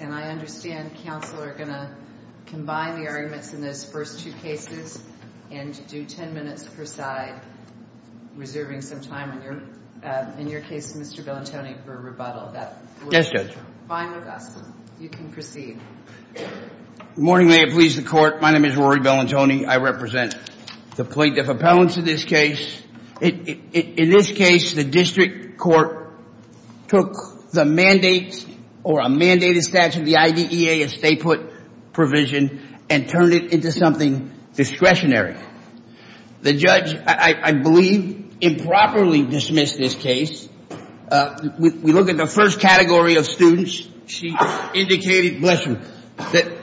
and I understand counsel are going to combine the arguments in those first two cases and do ten minutes per side, reserving some time in your case, Mr. Bellantoni, for rebuttal. Yes, Judge. Fine with us. You can proceed. Good morning, may it please the Court. My name is Rory Bellantoni. I represent the plaintiff In this case, the district court took the mandate or a mandated statute of the IDEA, a stay-put provision, and turned it into something discretionary. The judge, I believe, improperly dismissed this case. We look at the first category of students. She indicated, bless her, that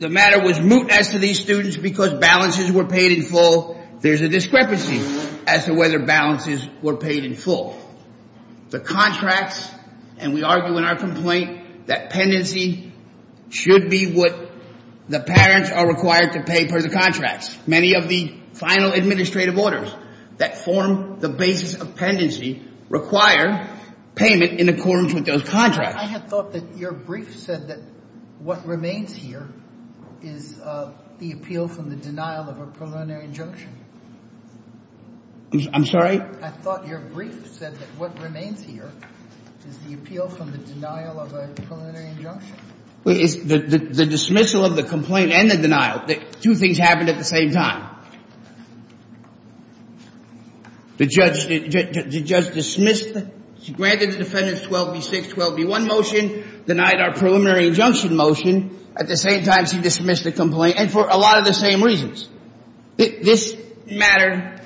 the matter was moot as to these students because balances were paid in full. There's a discrepancy as to whether balances were paid in full. The contracts, and we argue in our complaint that pendency should be what the parents are required to pay for the contracts. Many of the final administrative orders that form the basis of pendency require payment in accordance with those contracts. I have thought that your brief said that what remains here is the appeal from the denial of a preliminary injunction. I'm sorry? I thought your brief said that what remains here is the appeal from the denial of a preliminary injunction. It's the dismissal of the complaint and the denial. Two things happened at the same time. The judge dismissed it. She granted the defendant's 12B6, 12B1 motion, denied our preliminary injunction motion. At the same time, she dismissed the complaint, and for a lot of the same reasons. This matter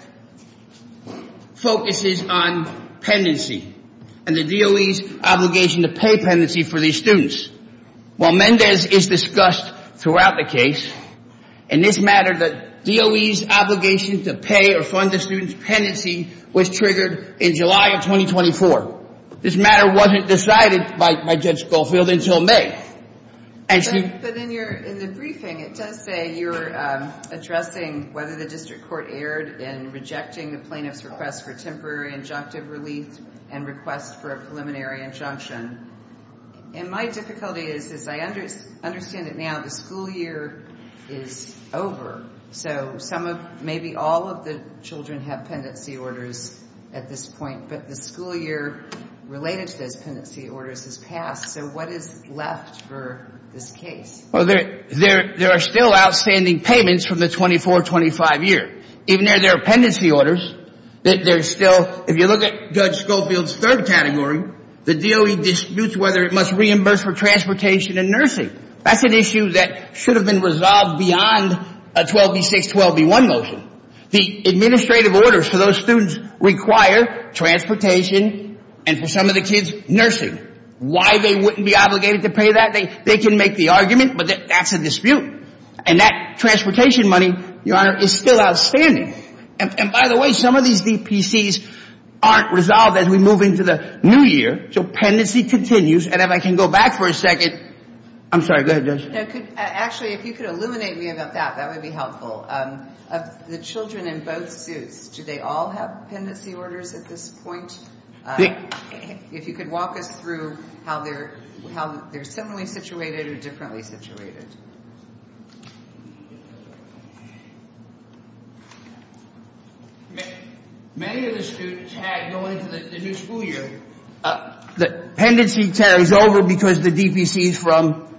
focuses on pendency and the DOE's obligation to pay pendency for these students. While Mendez is discussed throughout the case, in this matter, the DOE's obligation to pay or fund the students' pendency was triggered in July of 2024. This matter wasn't decided by Judge Schofield until May. But in the briefing, it does say you're addressing whether the district court erred in rejecting the plaintiff's request for temporary injunctive relief and request for a preliminary injunction. And my difficulty is, as I understand it now, the school year is over. So some of, maybe all of the children have pendency orders at this point, but the school year related to those pendency orders has passed. So what is left for this case? Well, there are still outstanding payments from the 24-25 year. Even though there are pendency orders, there's still, if you look at Judge Schofield's third category, the DOE disputes whether it must reimburse for transportation and nursing. That's an issue that should have been resolved beyond a 12B6, 12B1 motion. The administrative orders for those students require transportation and for some of the kids, nursing. Why they wouldn't be obligated to pay that, they can make the argument, but that's a dispute. And that transportation money, Your Honor, is still outstanding. And by the way, some of these DPCs aren't resolved as we move into the new year. So pendency continues. And if I can go back for a second. I'm sorry. Go ahead, Judge. Actually, if you could illuminate me about that, that would be helpful. Of the children in both suits, do they all have pendency orders at this point? If you could walk us through how they're similarly situated or differently situated. Many of the students had, going into the new school year, the pendency carries over because the DPCs from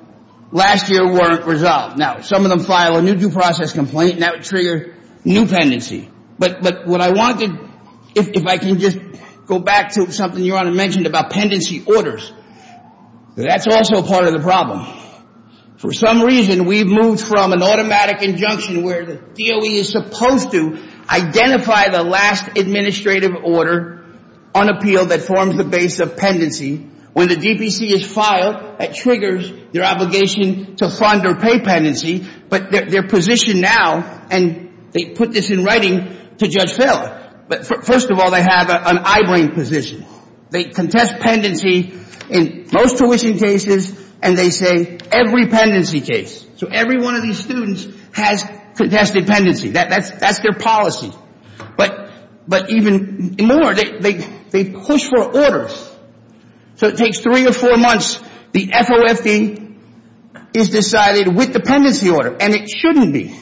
last year weren't resolved. Now, some of them file a new due process complaint, and that would trigger new pendency. But what I wanted, if I can just go back to something Your Honor mentioned about pendency orders. That's also part of the problem. For some reason, we've moved from an automatic injunction where the DOE is supposed to identify the last administrative order on appeal that forms the base of pendency. When the DPC is filed, that triggers their obligation to fund or pay pendency. But their position now, and they put this in writing to Judge Feller. But first of all, they have an eye-brain position. They contest pendency in most tuition cases, and they say every pendency case. So every one of these students has contested pendency. That's their policy. But even more, they push for orders. So it takes three or four months. The FOFD is decided with the pendency order, and it shouldn't be.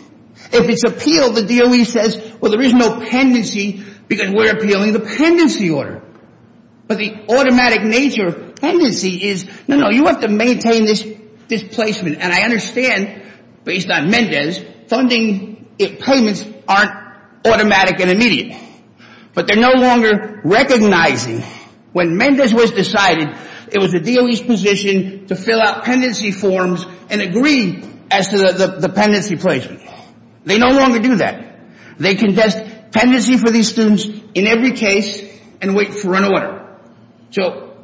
If it's appeal, the DOE says, well, there is no pendency because we're appealing the pendency order. But the automatic nature of pendency is, no, no, you have to maintain this placement. And I understand, based on Mendez, funding payments aren't automatic and immediate. But they're no longer recognizing, when Mendez was decided, it was the DOE's position to fill out pendency forms and agree as to the pendency placement. They no longer do that. They contest pendency for these students in every case and wait for an order. So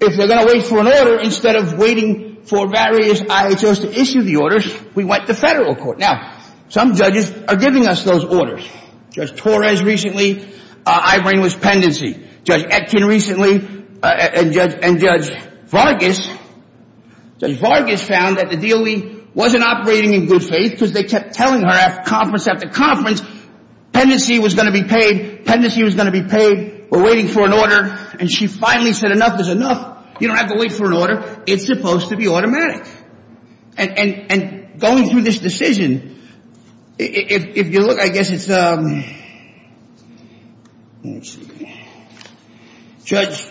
if they're going to wait for an order, instead of waiting for various IHOs to issue the orders, we went to federal court. Now, some judges are giving us those orders. Judge Torres recently. Ibram was pendency. Judge Etkin recently. And Judge Vargas. Judge Vargas found that the DOE wasn't operating in good faith because they kept telling her, after conference after conference, pendency was going to be paid, pendency was going to be paid. We're waiting for an order. And she finally said, enough is enough. You don't have to wait for an order. It's supposed to be automatic. And going through this decision, if you look, I guess it's a judge,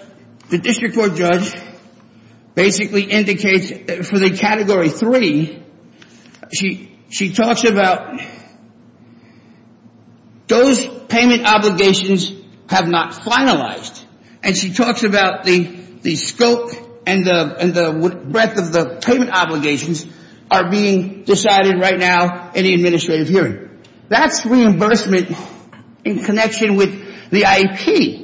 the district court judge, basically indicates for the Category 3, she talks about those payment obligations have not finalized. And she talks about the scope and the breadth of the payment obligations are being decided right now in the administrative hearing. That's reimbursement in connection with the IEP.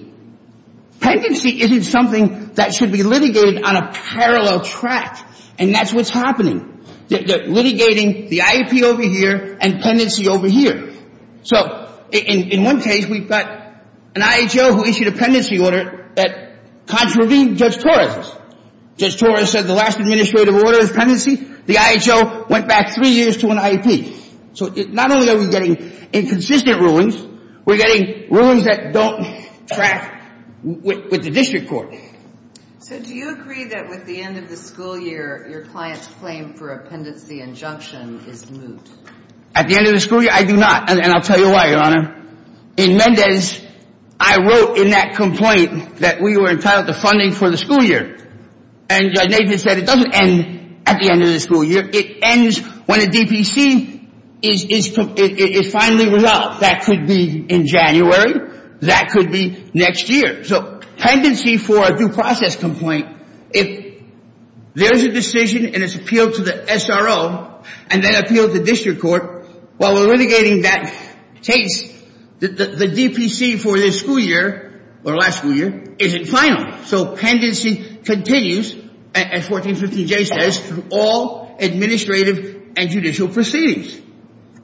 Pendency isn't something that should be litigated on a parallel track. And that's what's happening. They're litigating the IEP over here and pendency over here. So in one case, we've got an IHO who issued a pendency order that contravened Judge Torres. Judge Torres said the last administrative order is pendency. The IHO went back three years to an IEP. So not only are we getting inconsistent rulings, we're getting rulings that don't track with the district court. So do you agree that with the end of the school year, your client's claim for a pendency injunction is moot? At the end of the school year, I do not. And I'll tell you why, Your Honor. In Mendez, I wrote in that complaint that we were entitled to funding for the school year. And Judge Nathan said it doesn't end at the end of the school year. It ends when a DPC is finally resolved. That could be in January. That could be next year. So pendency for a due process complaint, if there's a decision and it's appealed to the SRO and then appealed to district court, while we're litigating that case, the DPC for this school year or last school year isn't final. So pendency continues, as 1415J says, through all administrative and judicial proceedings.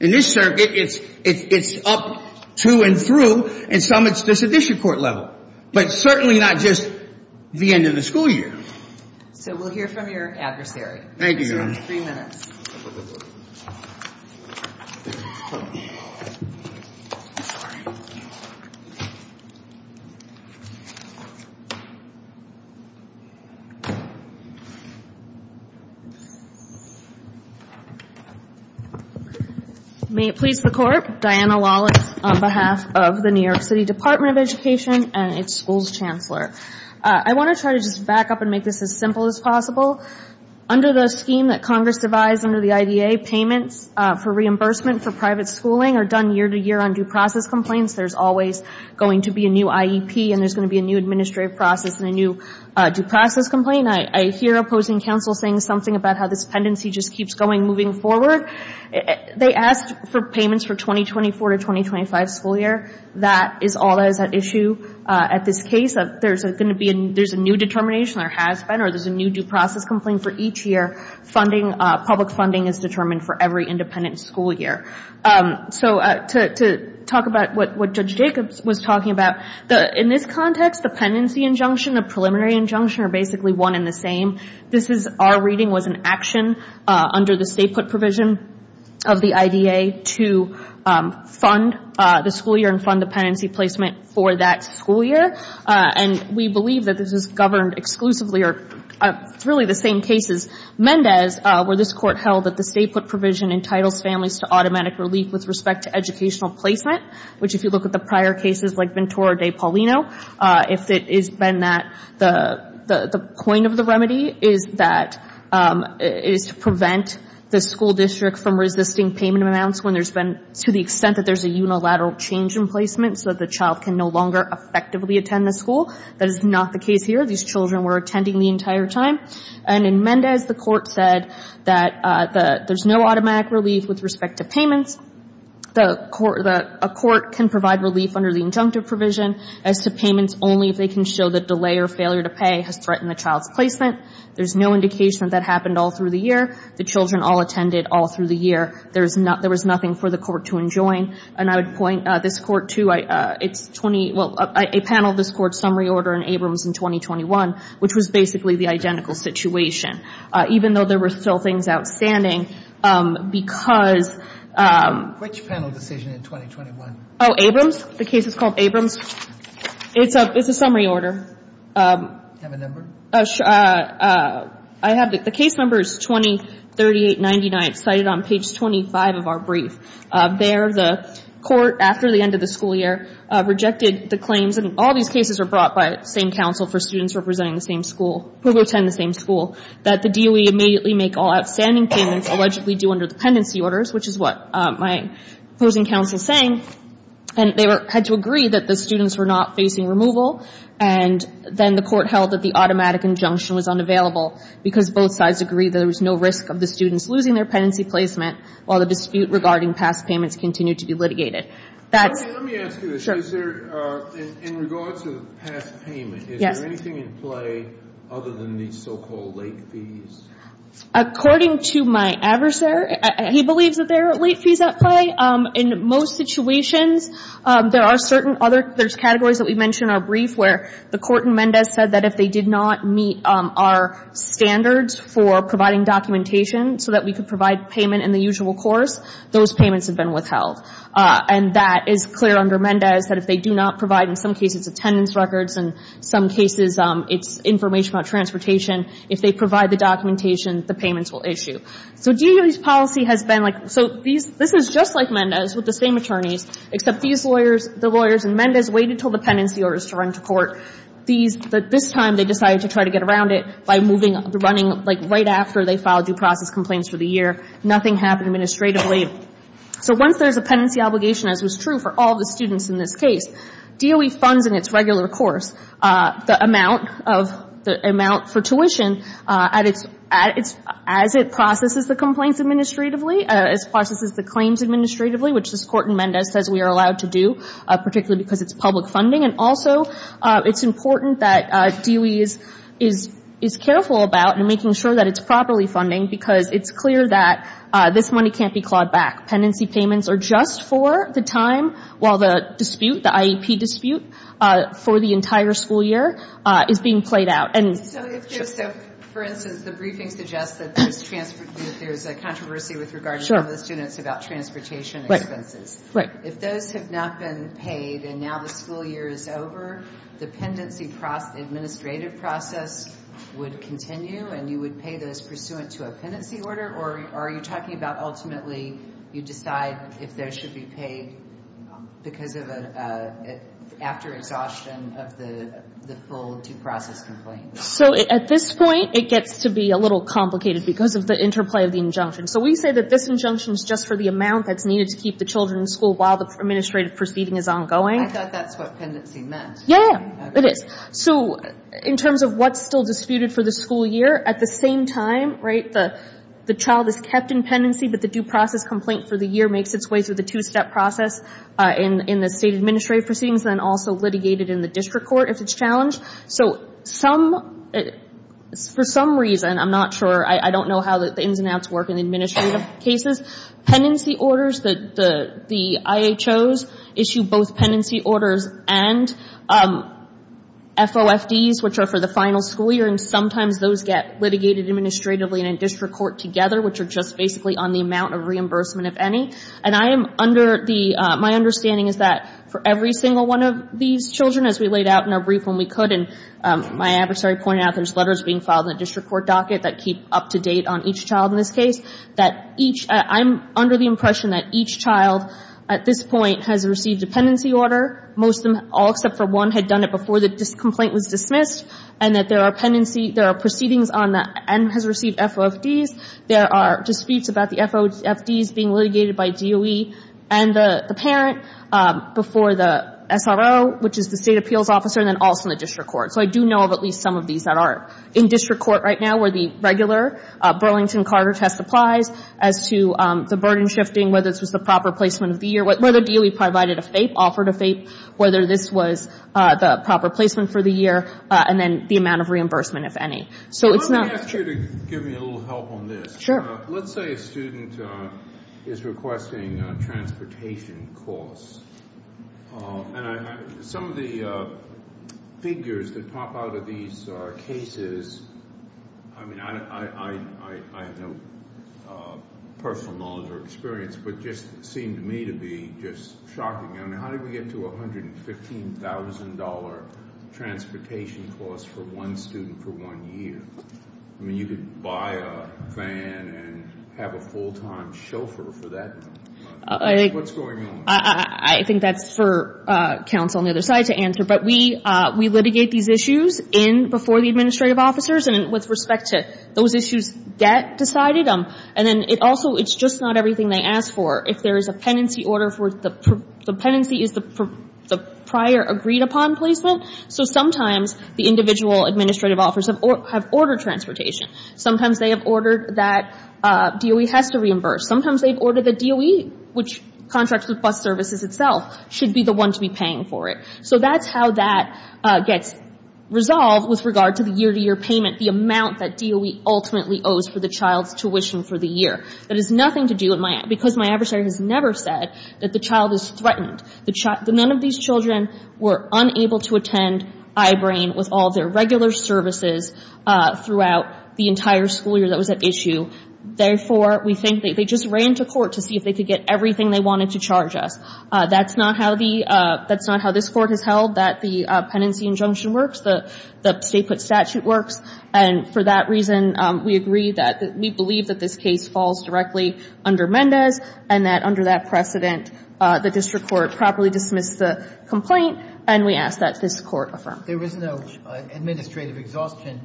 In this circuit, it's up to and through. In some, it's the sedition court level. But certainly not just the end of the school year. So we'll hear from your adversary. Thank you, Your Honor. Three minutes. I'm sorry. May it please the Court, Diana Lawless on behalf of the New York City Department of Education and its school's chancellor. I want to try to just back up and make this as simple as possible. Under the scheme that Congress devised under the IDA, payments for reimbursement for private schooling are done year to year on due process complaints. There's always going to be a new IEP and there's going to be a new administrative process and a new due process complaint. I hear opposing counsel saying something about how this pendency just keeps going, moving forward. They asked for payments for 2024 to 2025 school year. That is all that is at issue at this case. There's a new determination that has been or there's a new due process complaint for each year. Public funding is determined for every independent school year. To talk about what Judge Jacobs was talking about, in this context, the pendency injunction, the preliminary injunction are basically one and the same. This is our reading was an action under the state put provision of the IDA to fund the school year and fund the pendency placement for that school year. And we believe that this is governed exclusively or it's really the same case as Mendez, where this Court held that the state put provision entitles families to automatic relief with respect to educational placement, which if you look at the prior cases like Ventura de Paulino, if it has been that, the point of the remedy is that it is to prevent the school district from resisting payment amounts when there's been, to the extent that there's a unilateral change in placement so that the child can no longer effectively attend the school. That is not the case here. These children were attending the entire time. And in Mendez, the Court said that there's no automatic relief with respect to payments. A court can provide relief under the injunctive provision as to payments only if they can show that delay or failure to pay has threatened the child's placement. There's no indication that that happened all through the year. The children all attended all through the year. There was nothing for the Court to enjoin. And I would point this Court to, it's 20, well, a panel of this Court's summary order in Abrams in 2021, which was basically the identical situation. Even though there were still things outstanding because... Which panel decision in 2021? Oh, Abrams. The case is called Abrams. It's a summary order. Do you have a number? I have the case numbers 20, 38, 99 cited on page 25 of our brief. There, the Court, after the end of the school year, rejected the claims. And all these cases were brought by the same counsel for students representing the same school, who attend the same school, that the DOE immediately make all outstanding payments allegedly due under the pendency orders, which is what my opposing counsel is saying. And they had to agree that the students were not facing removal. And then the Court held that the automatic injunction was unavailable because both sides agreed there was no risk of the students losing their pendency placement while the dispute regarding past payments continued to be litigated. That's... In regards to the past payment, is there anything in play other than these so-called late fees? According to my adversary, he believes that there are late fees at play. In most situations, there are certain other categories that we mentioned in our brief where the Court in Mendez said that if they did not meet our standards for providing documentation so that we could provide payment in the usual course, those payments have been withheld. And that is clear under Mendez, that if they do not provide, in some cases, attendance records, in some cases, it's information about transportation, if they provide the documentation, the payments will issue. So DOE's policy has been like... So this is just like Mendez with the same attorneys, except these lawyers, the lawyers in Mendez, waited until the pendency orders to run to court. These... This time, they decided to try to get around it by moving, running, like, right after they filed due process complaints for the year. Nothing happened administratively. So once there's a pendency obligation, as was true for all the students in this case, DOE funds in its regular course the amount for tuition as it processes the complaints administratively, as it processes the claims administratively, which this Court in Mendez says we are allowed to do, particularly because it's public funding. And also, it's important that DOE is careful about and making sure that it's properly funding, because it's clear that this money can't be clawed back. Pendency payments are just for the time while the dispute, the IEP dispute, for the entire school year is being played out. So if, for instance, the briefing suggests that there's a controversy with regard to some of the students about transportation expenses, if those have not been paid and now the school year is over, the pendency administrative process would continue and you would pay those pursuant to a pendency order? Or are you talking about ultimately you decide if those should be paid after exhaustion of the full due process complaint? So at this point, it gets to be a little complicated because of the interplay of the injunction. So we say that this injunction is just for the amount that's needed to keep the children in school while the administrative proceeding is ongoing. I thought that's what pendency meant. Yeah, it is. So in terms of what's still disputed for the school year, at the same time, right, the child is kept in pendency but the due process complaint for the year makes its way through the two-step process in the state administrative proceedings and then also litigated in the district court if it's challenged. So for some reason, I'm not sure, I don't know how the ins and outs work in administrative cases, pendency orders, the IHOs issue both pendency orders and FOFDs, which are for the final school year, and sometimes those get litigated administratively in a district court together, which are just basically on the amount of reimbursement, if any. And my understanding is that for every single one of these children, as we laid out in our brief when we could and my adversary pointed out, there's letters being filed in the district court docket that keep up to date on each child in this case, that each, I'm under the impression that each child at this point has received a pendency order. Most of them, all except for one, had done it before the complaint was dismissed and that there are pendency, there are proceedings on that and has received FOFDs. There are disputes about the FOFDs being litigated by DOE and the parent before the SRO, which is the state appeals officer, and then also in the district court. So I do know of at least some of these that are in district court right now where the regular Burlington Carter test applies as to the burden shifting, whether this was the proper placement of the year, whether DOE provided a FAPE, offered a FAPE, whether this was the proper placement for the year, and then the amount of reimbursement, if any. So it's not- I'm going to ask you to give me a little help on this. Sure. Let's say a student is requesting transportation costs. And some of the figures that pop out of these cases, I mean, I have no personal knowledge or experience, but it just seemed to me to be just shocking. I mean, how did we get to $115,000 transportation costs for one student for one year? I mean, you could buy a van and have a full-time chauffeur for that amount of money. What's going on? I think that's for counsel on the other side to answer. But we litigate these issues in before the administrative officers, and with respect to those issues that decided them. And then it also, it's just not everything they ask for. If there is a penancy order, the penancy is the prior agreed-upon placement. So sometimes the individual administrative officers have ordered transportation. Sometimes they have ordered that DOE has to reimburse. Sometimes they've ordered that DOE, which contracts with bus services itself, should be the one to be paying for it. So that's how that gets resolved with regard to the year-to-year payment, the amount that DOE ultimately owes for the child's tuition for the year. That has nothing to do with my adversary has never said that the child is threatened. None of these children were unable to attend I-BRAIN with all their regular services throughout the entire school year that was at issue. Therefore, we think they just ran to court to see if they could get everything they wanted to charge us. That's not how the – that's not how this Court has held that the penancy injunction works, the state put statute works. And for that reason, we agree that we believe that this case falls directly under Mendez, and that under that precedent, the district court properly dismissed the complaint, and we ask that this Court affirm. There is no administrative exhaustion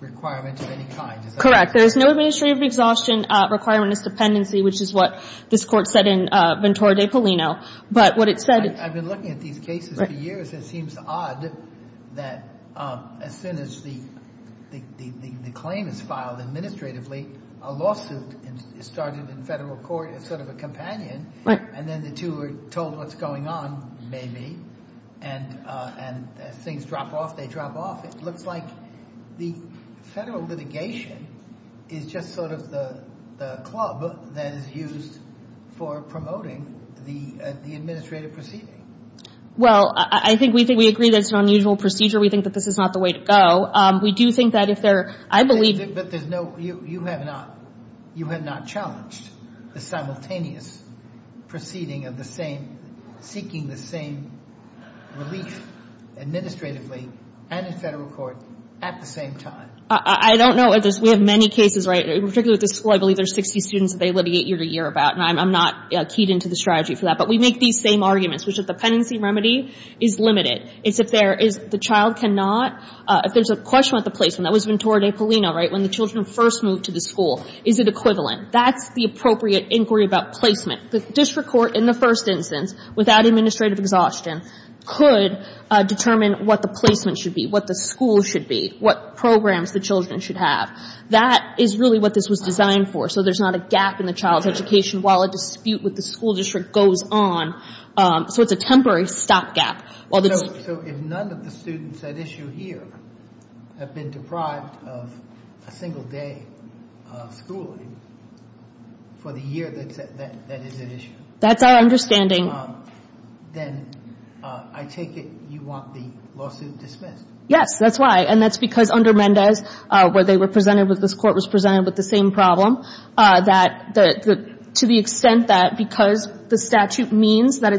requirement of any kind, is there? Correct. There is no administrative exhaustion requirement as dependency, which is what this Court said in Ventura de Polino. But what it said – I've been looking at these cases for years. It seems odd that as soon as the claim is filed administratively, a lawsuit is started in federal court as sort of a companion, and then the two are told what's going on, maybe, and as things drop off, they drop off. It looks like the federal litigation is just sort of the club that is used for promoting the administrative proceeding. Well, I think we agree that it's an unusual procedure. We think that this is not the way to go. We do think that if there – I believe – But there's no – you have not challenged the simultaneous proceeding of the same – seeking the same relief administratively and in federal court at the same time. I don't know if there's – we have many cases, right, particularly with this school. I believe there's 60 students that they litigate year to year about, and I'm not keyed into the strategy for that. But we make these same arguments, which is dependency remedy is limited. It's if there is – the child cannot – if there's a question about the placement. That was Ventura de Polino, right, when the children first moved to the school. Is it equivalent? That's the appropriate inquiry about placement. The district court, in the first instance, without administrative exhaustion, could determine what the placement should be, what the school should be, what programs the children should have. That is really what this was designed for, so there's not a gap in the child's education while a dispute with the school district goes on, so it's a temporary stopgap. So if none of the students at issue here have been deprived of a single day of schooling for the year that is at issue. That's our understanding. Then I take it you want the lawsuit dismissed. Yes, that's why. And that's because under Mendez, where they were presented with – this Court was presented with the same problem, that to the extent that because the statute means that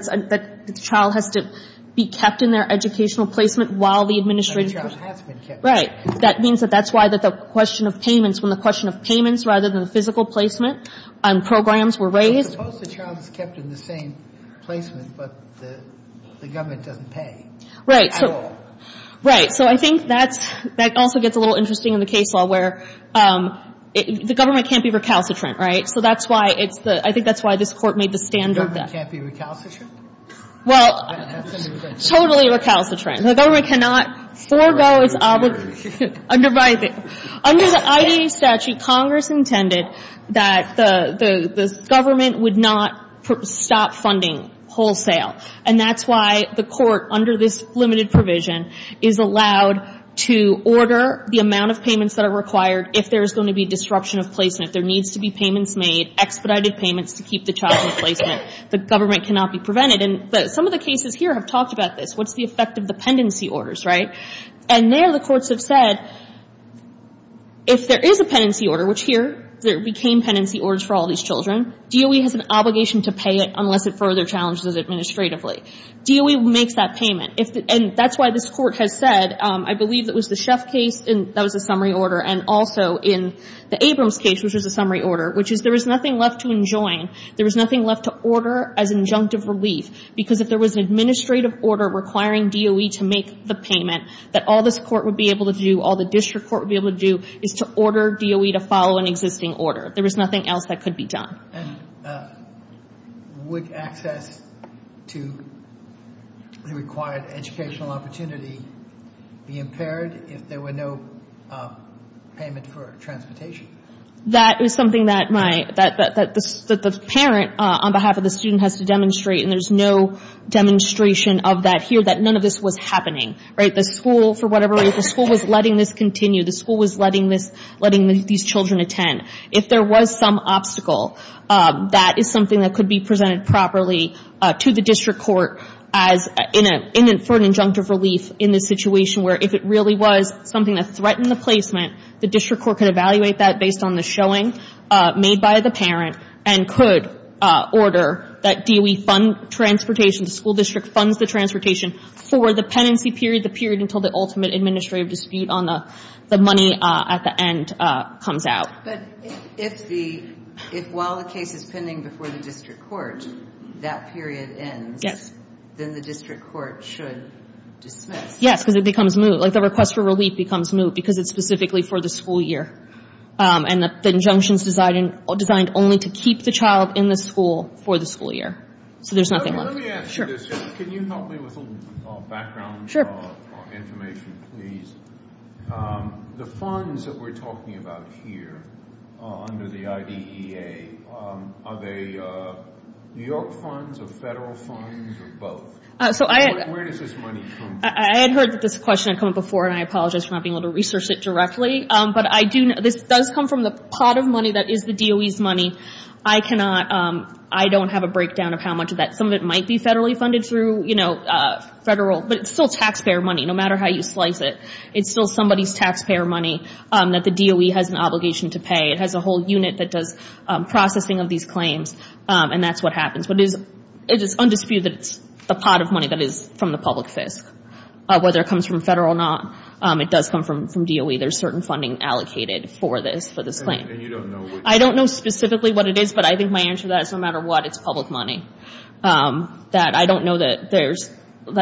the child has to be kept in their educational placement while the administrative – And the child has been kept. Right. That means that that's why the question of payments, when the question of payments rather than the physical placement and programs were raised. But suppose the child is kept in the same placement, but the government doesn't pay. Right. At all. Right. So I think that's – that also gets a little interesting in the case law, where the government can't be recalcitrant, right? So that's why it's the – I think that's why this Court made the stand on that. The government can't be recalcitrant? Well, totally recalcitrant. The government cannot forego its obligation. Under the IDA statute, Congress intended that the government would not stop funding wholesale. And that's why the Court, under this limited provision, is allowed to order the amount of payments that are required if there's going to be disruption of placement. There needs to be payments made, expedited payments to keep the child in placement. The government cannot be prevented. And some of the cases here have talked about this. What's the effect of dependency orders, right? And there, the courts have said, if there is a pendency order, which here, there became pendency orders for all these children, DOE has an obligation to pay it unless it further challenges it administratively. DOE makes that payment. And that's why this Court has said, I believe it was the Sheff case, that was a summary order, and also in the Abrams case, which was a summary order, which is there is nothing left to enjoin. There is nothing left to order as injunctive relief. Because if there was an administrative order requiring DOE to make the payment, that all this Court would be able to do, all the district court would be able to do, is to order DOE to follow an existing order. There is nothing else that could be done. And would access to the required educational opportunity be impaired if there were no payment for transportation? That is something that the parent, on behalf of the student, has to demonstrate. And there is no demonstration of that here, that none of this was happening. The school, for whatever reason, the school was letting this continue. The school was letting these children attend. If there was some obstacle, that is something that could be presented properly to the district court for an injunctive relief in this situation, where if it really was something that threatened the placement, the district court could evaluate that based on the showing made by the parent and could order that DOE fund transportation, the school district funds the transportation for the penancy period, the period until the ultimate administrative dispute on the money at the end comes out. But if while the case is pending before the district court, that period ends, then the district court should dismiss. Yes, because it becomes moot. Like the request for relief becomes moot because it is specifically for the school year. And the injunction is designed only to keep the child in the school for the school year. So there is nothing like that. Let me ask you this. Can you help me with a little background information, please? The funds that we are talking about here under the IDEA, are they New York funds or federal funds or both? Where does this money come from? I had heard that this question had come up before, and I apologize for not being able to research it directly. But this does come from the pot of money that is the DOE's money. I cannot, I don't have a breakdown of how much of that. Some of it might be federally funded through, you know, federal, but it's still taxpayer money no matter how you slice it. It's still somebody's taxpayer money that the DOE has an obligation to pay. It has a whole unit that does processing of these claims, and that's what happens. But it is undisputed that it's the pot of money that is from the public FISC, whether it comes from federal or not. It does come from DOE. There's certain funding allocated for this claim. And you don't know which? I don't know specifically what it is, but I think my answer to that is no matter what, it's public money. I don't know that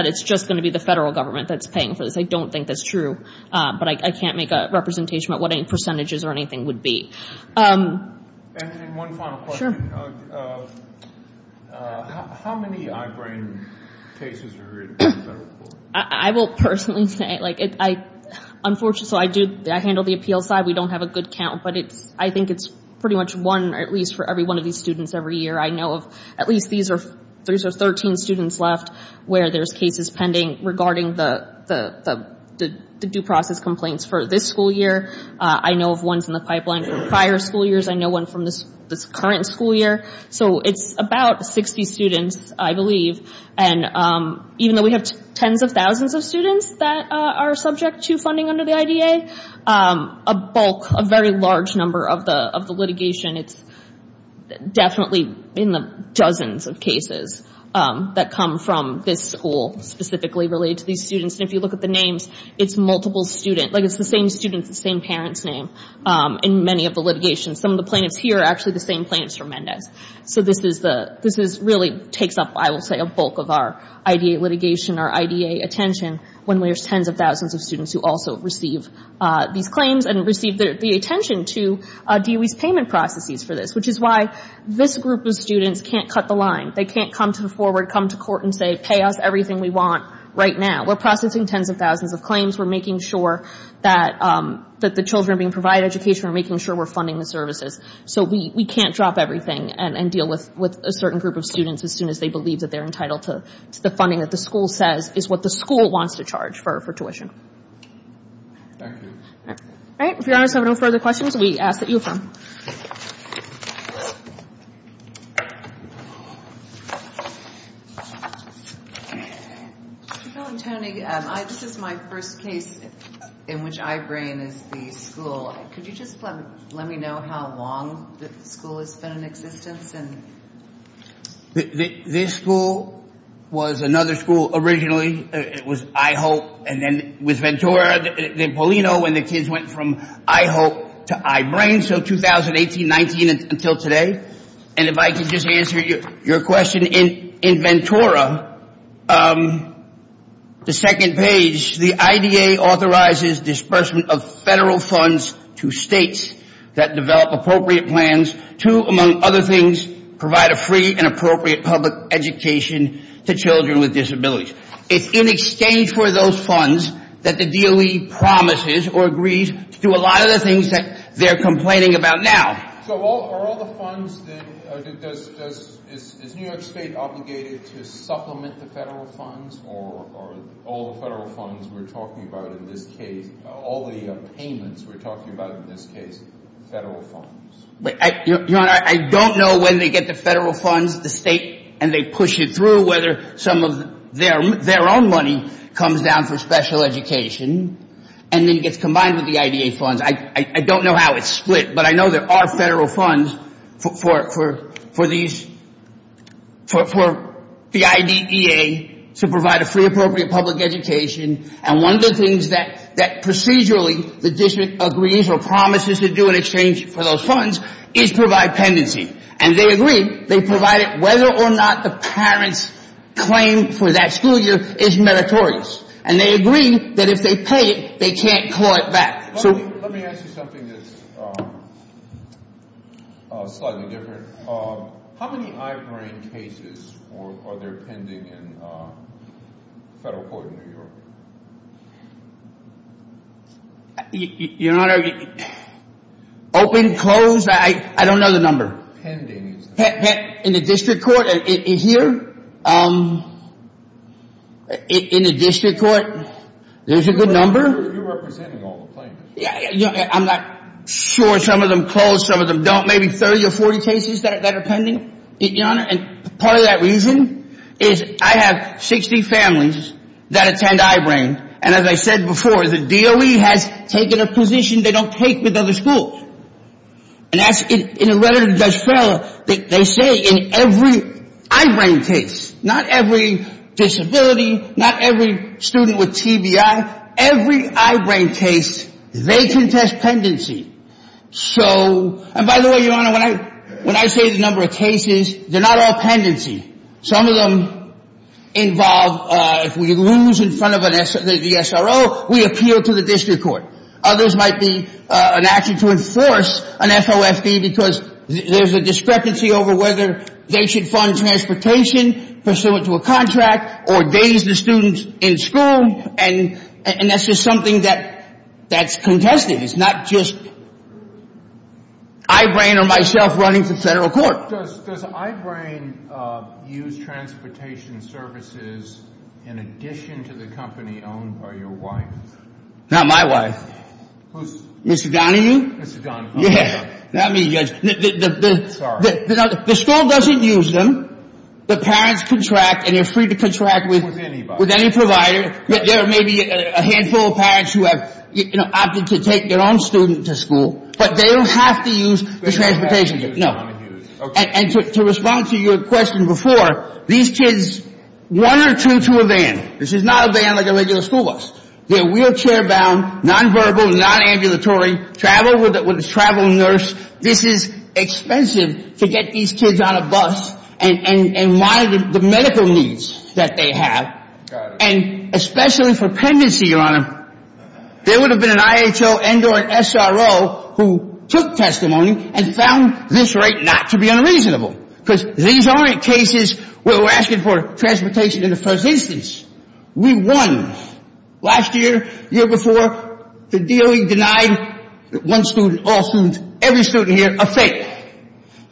it's just going to be the federal government that's paying for this. I don't think that's true, but I can't make a representation about what any percentages or anything would be. And then one final question. Sure. How many eye-brain cases are in federal court? I will personally say, like, unfortunately, I handle the appeals side. We don't have a good count, but I think it's pretty much one at least for every one of these students every year. I know of at least these are 13 students left where there's cases pending regarding the due process complaints for this school year. I know of ones in the pipeline from prior school years. I know one from this current school year. So it's about 60 students, I believe. And even though we have tens of thousands of students that are subject to funding under the IDA, a bulk, a very large number of the litigation, it's definitely in the dozens of cases that come from this school, specifically related to these students. And if you look at the names, it's multiple students. Like, it's the same students, the same parents' name in many of the litigations. Some of the plaintiffs here are actually the same plaintiffs from Mendez. So this really takes up, I will say, a bulk of our IDA litigation, our IDA attention, when there's tens of thousands of students who also receive these claims and receive the attention to DOE's payment processes for this, which is why this group of students can't cut the line. They can't come to the foreword, come to court and say, pay us everything we want right now. We're processing tens of thousands of claims. We're making sure that the children being provided education, we're making sure we're funding the services. So we can't drop everything and deal with a certain group of students as soon as they believe that they're entitled to the funding that the school says is what the school wants to charge for tuition. All right. If Your Honors have no further questions, we ask that you affirm. Mr. Bellantoni, this is my first case in which I-BRAIN is the school. Could you just let me know how long the school has been in existence? This school was another school originally. It was I-HOPE, and then it was Ventura, then Paulino, and the kids went from I-HOPE to I-BRAIN. So 2018, 19 until today. And if I could just answer your question. In Ventura, the second page, the IDA authorizes disbursement of federal funds to states that develop appropriate plans to, among other things, provide a free and appropriate public education to children with disabilities. It's in exchange for those funds that the DOE promises or agrees to do a lot of the things that they're complaining about now. So are all the funds that-does-is New York State obligated to supplement the federal funds or are all the federal funds we're talking about in this case, all the payments we're talking about in this case, federal funds? Your Honor, I don't know when they get the federal funds, the state, and they push it through whether some of their own money comes down for special education and then gets combined with the IDA funds. I don't know how it's split, but I know there are federal funds for these-for the IDEA to provide a free, appropriate public education. And one of the things that procedurally the district agrees or promises to do in exchange for those funds is provide pendency. And they agree. They provide it whether or not the parent's claim for that school year is meritorious. And they agree that if they pay it, they can't call it back. So- Let me ask you something that's slightly different. How many eye-brain cases are there pending in federal court in New York? Your Honor, open, closed, I don't know the number. How many are pending? In the district court? Here? In the district court? There's a good number? You're representing all the plaintiffs. I'm not sure some of them close, some of them don't. Maybe 30 or 40 cases that are pending, Your Honor. And part of that reason is I have 60 families that attend eye-brain. And as I said before, the DOE has taken a position they don't take with other schools. And in a letter to Judge Farrell, they say in every eye-brain case, not every disability, not every student with TBI, every eye-brain case, they can test pendency. And by the way, Your Honor, when I say the number of cases, they're not all pendency. Some of them involve if we lose in front of the SRO, we appeal to the district court. Others might be an action to enforce an FOFB because there's a discrepancy over whether they should fund transportation pursuant to a contract or days to students in school. And that's just something that's contested. It's not just eye-brain or myself running for federal court. Does eye-brain use transportation services in addition to the company owned by your wife? Not my wife. Who's? Mr. Donahue? Mr. Donahue. Yeah. Not me, Judge. Sorry. The school doesn't use them. The parents contract and they're free to contract with any provider. There may be a handful of parents who have, you know, opted to take their own student to school. But they don't have to use the transportation. They don't have to use Donahue. No. Okay. And to respond to your question before, these kids, one or two to a van. This is not a van like a regular school bus. They're wheelchair-bound, non-verbal, non-ambulatory, travel with a travel nurse. This is expensive to get these kids on a bus and monitor the medical needs that they have. Got it. And especially for pendency, Your Honor, there would have been an IHO and or an SRO who took testimony and found this right not to be unreasonable because these aren't cases where we're asking for transportation in the first instance. We won. Last year, the year before, the DOE denied one student, all students, every student here, a fake.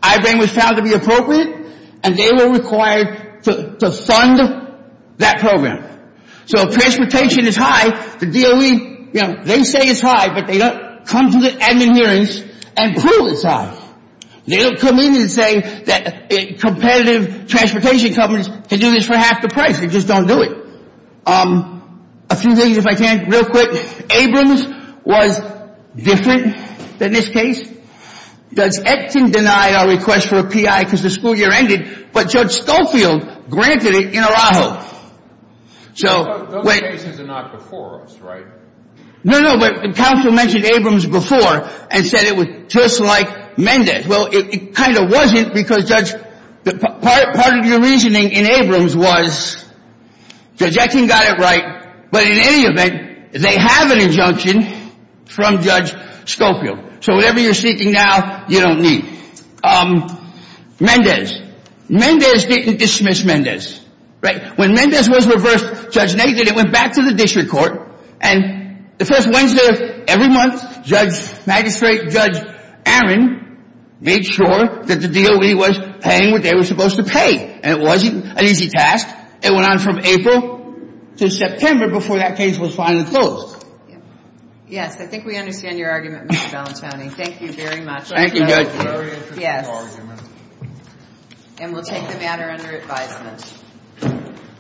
Eyebring was found to be appropriate and they were required to fund that program. So if transportation is high, the DOE, you know, they say it's high, but they don't come to the admin hearings and prove it's high. They don't come in and say that competitive transportation companies can do this for half the price. They just don't do it. A few things, if I can, real quick. Eyebring was different than this case. Does Edson deny our request for a PI because the school year ended, but Judge Schofield granted it in Araujo. Those cases are not before us, right? No, no, but the counsel mentioned Eyebring before and said it was just like Mendez. Well, it kind of wasn't because, Judge, part of your reasoning in Eyebring was Judge Edson got it right, but in any event, they have an injunction from Judge Schofield. So whatever you're seeking now, you don't need. Mendez. Mendez didn't dismiss Mendez, right? When Mendez was reversed, Judge Nathan, it went back to the district court, and the first Wednesday of every month, Judge, Magistrate Judge Aaron made sure that the DOE was paying what they were supposed to pay. And it wasn't an easy task. It went on from April to September before that case was finally closed. Yes, I think we understand your argument, Mr. Balentone. Thank you very much. Thank you, Judge. Yes. And we'll take the matter under advisement.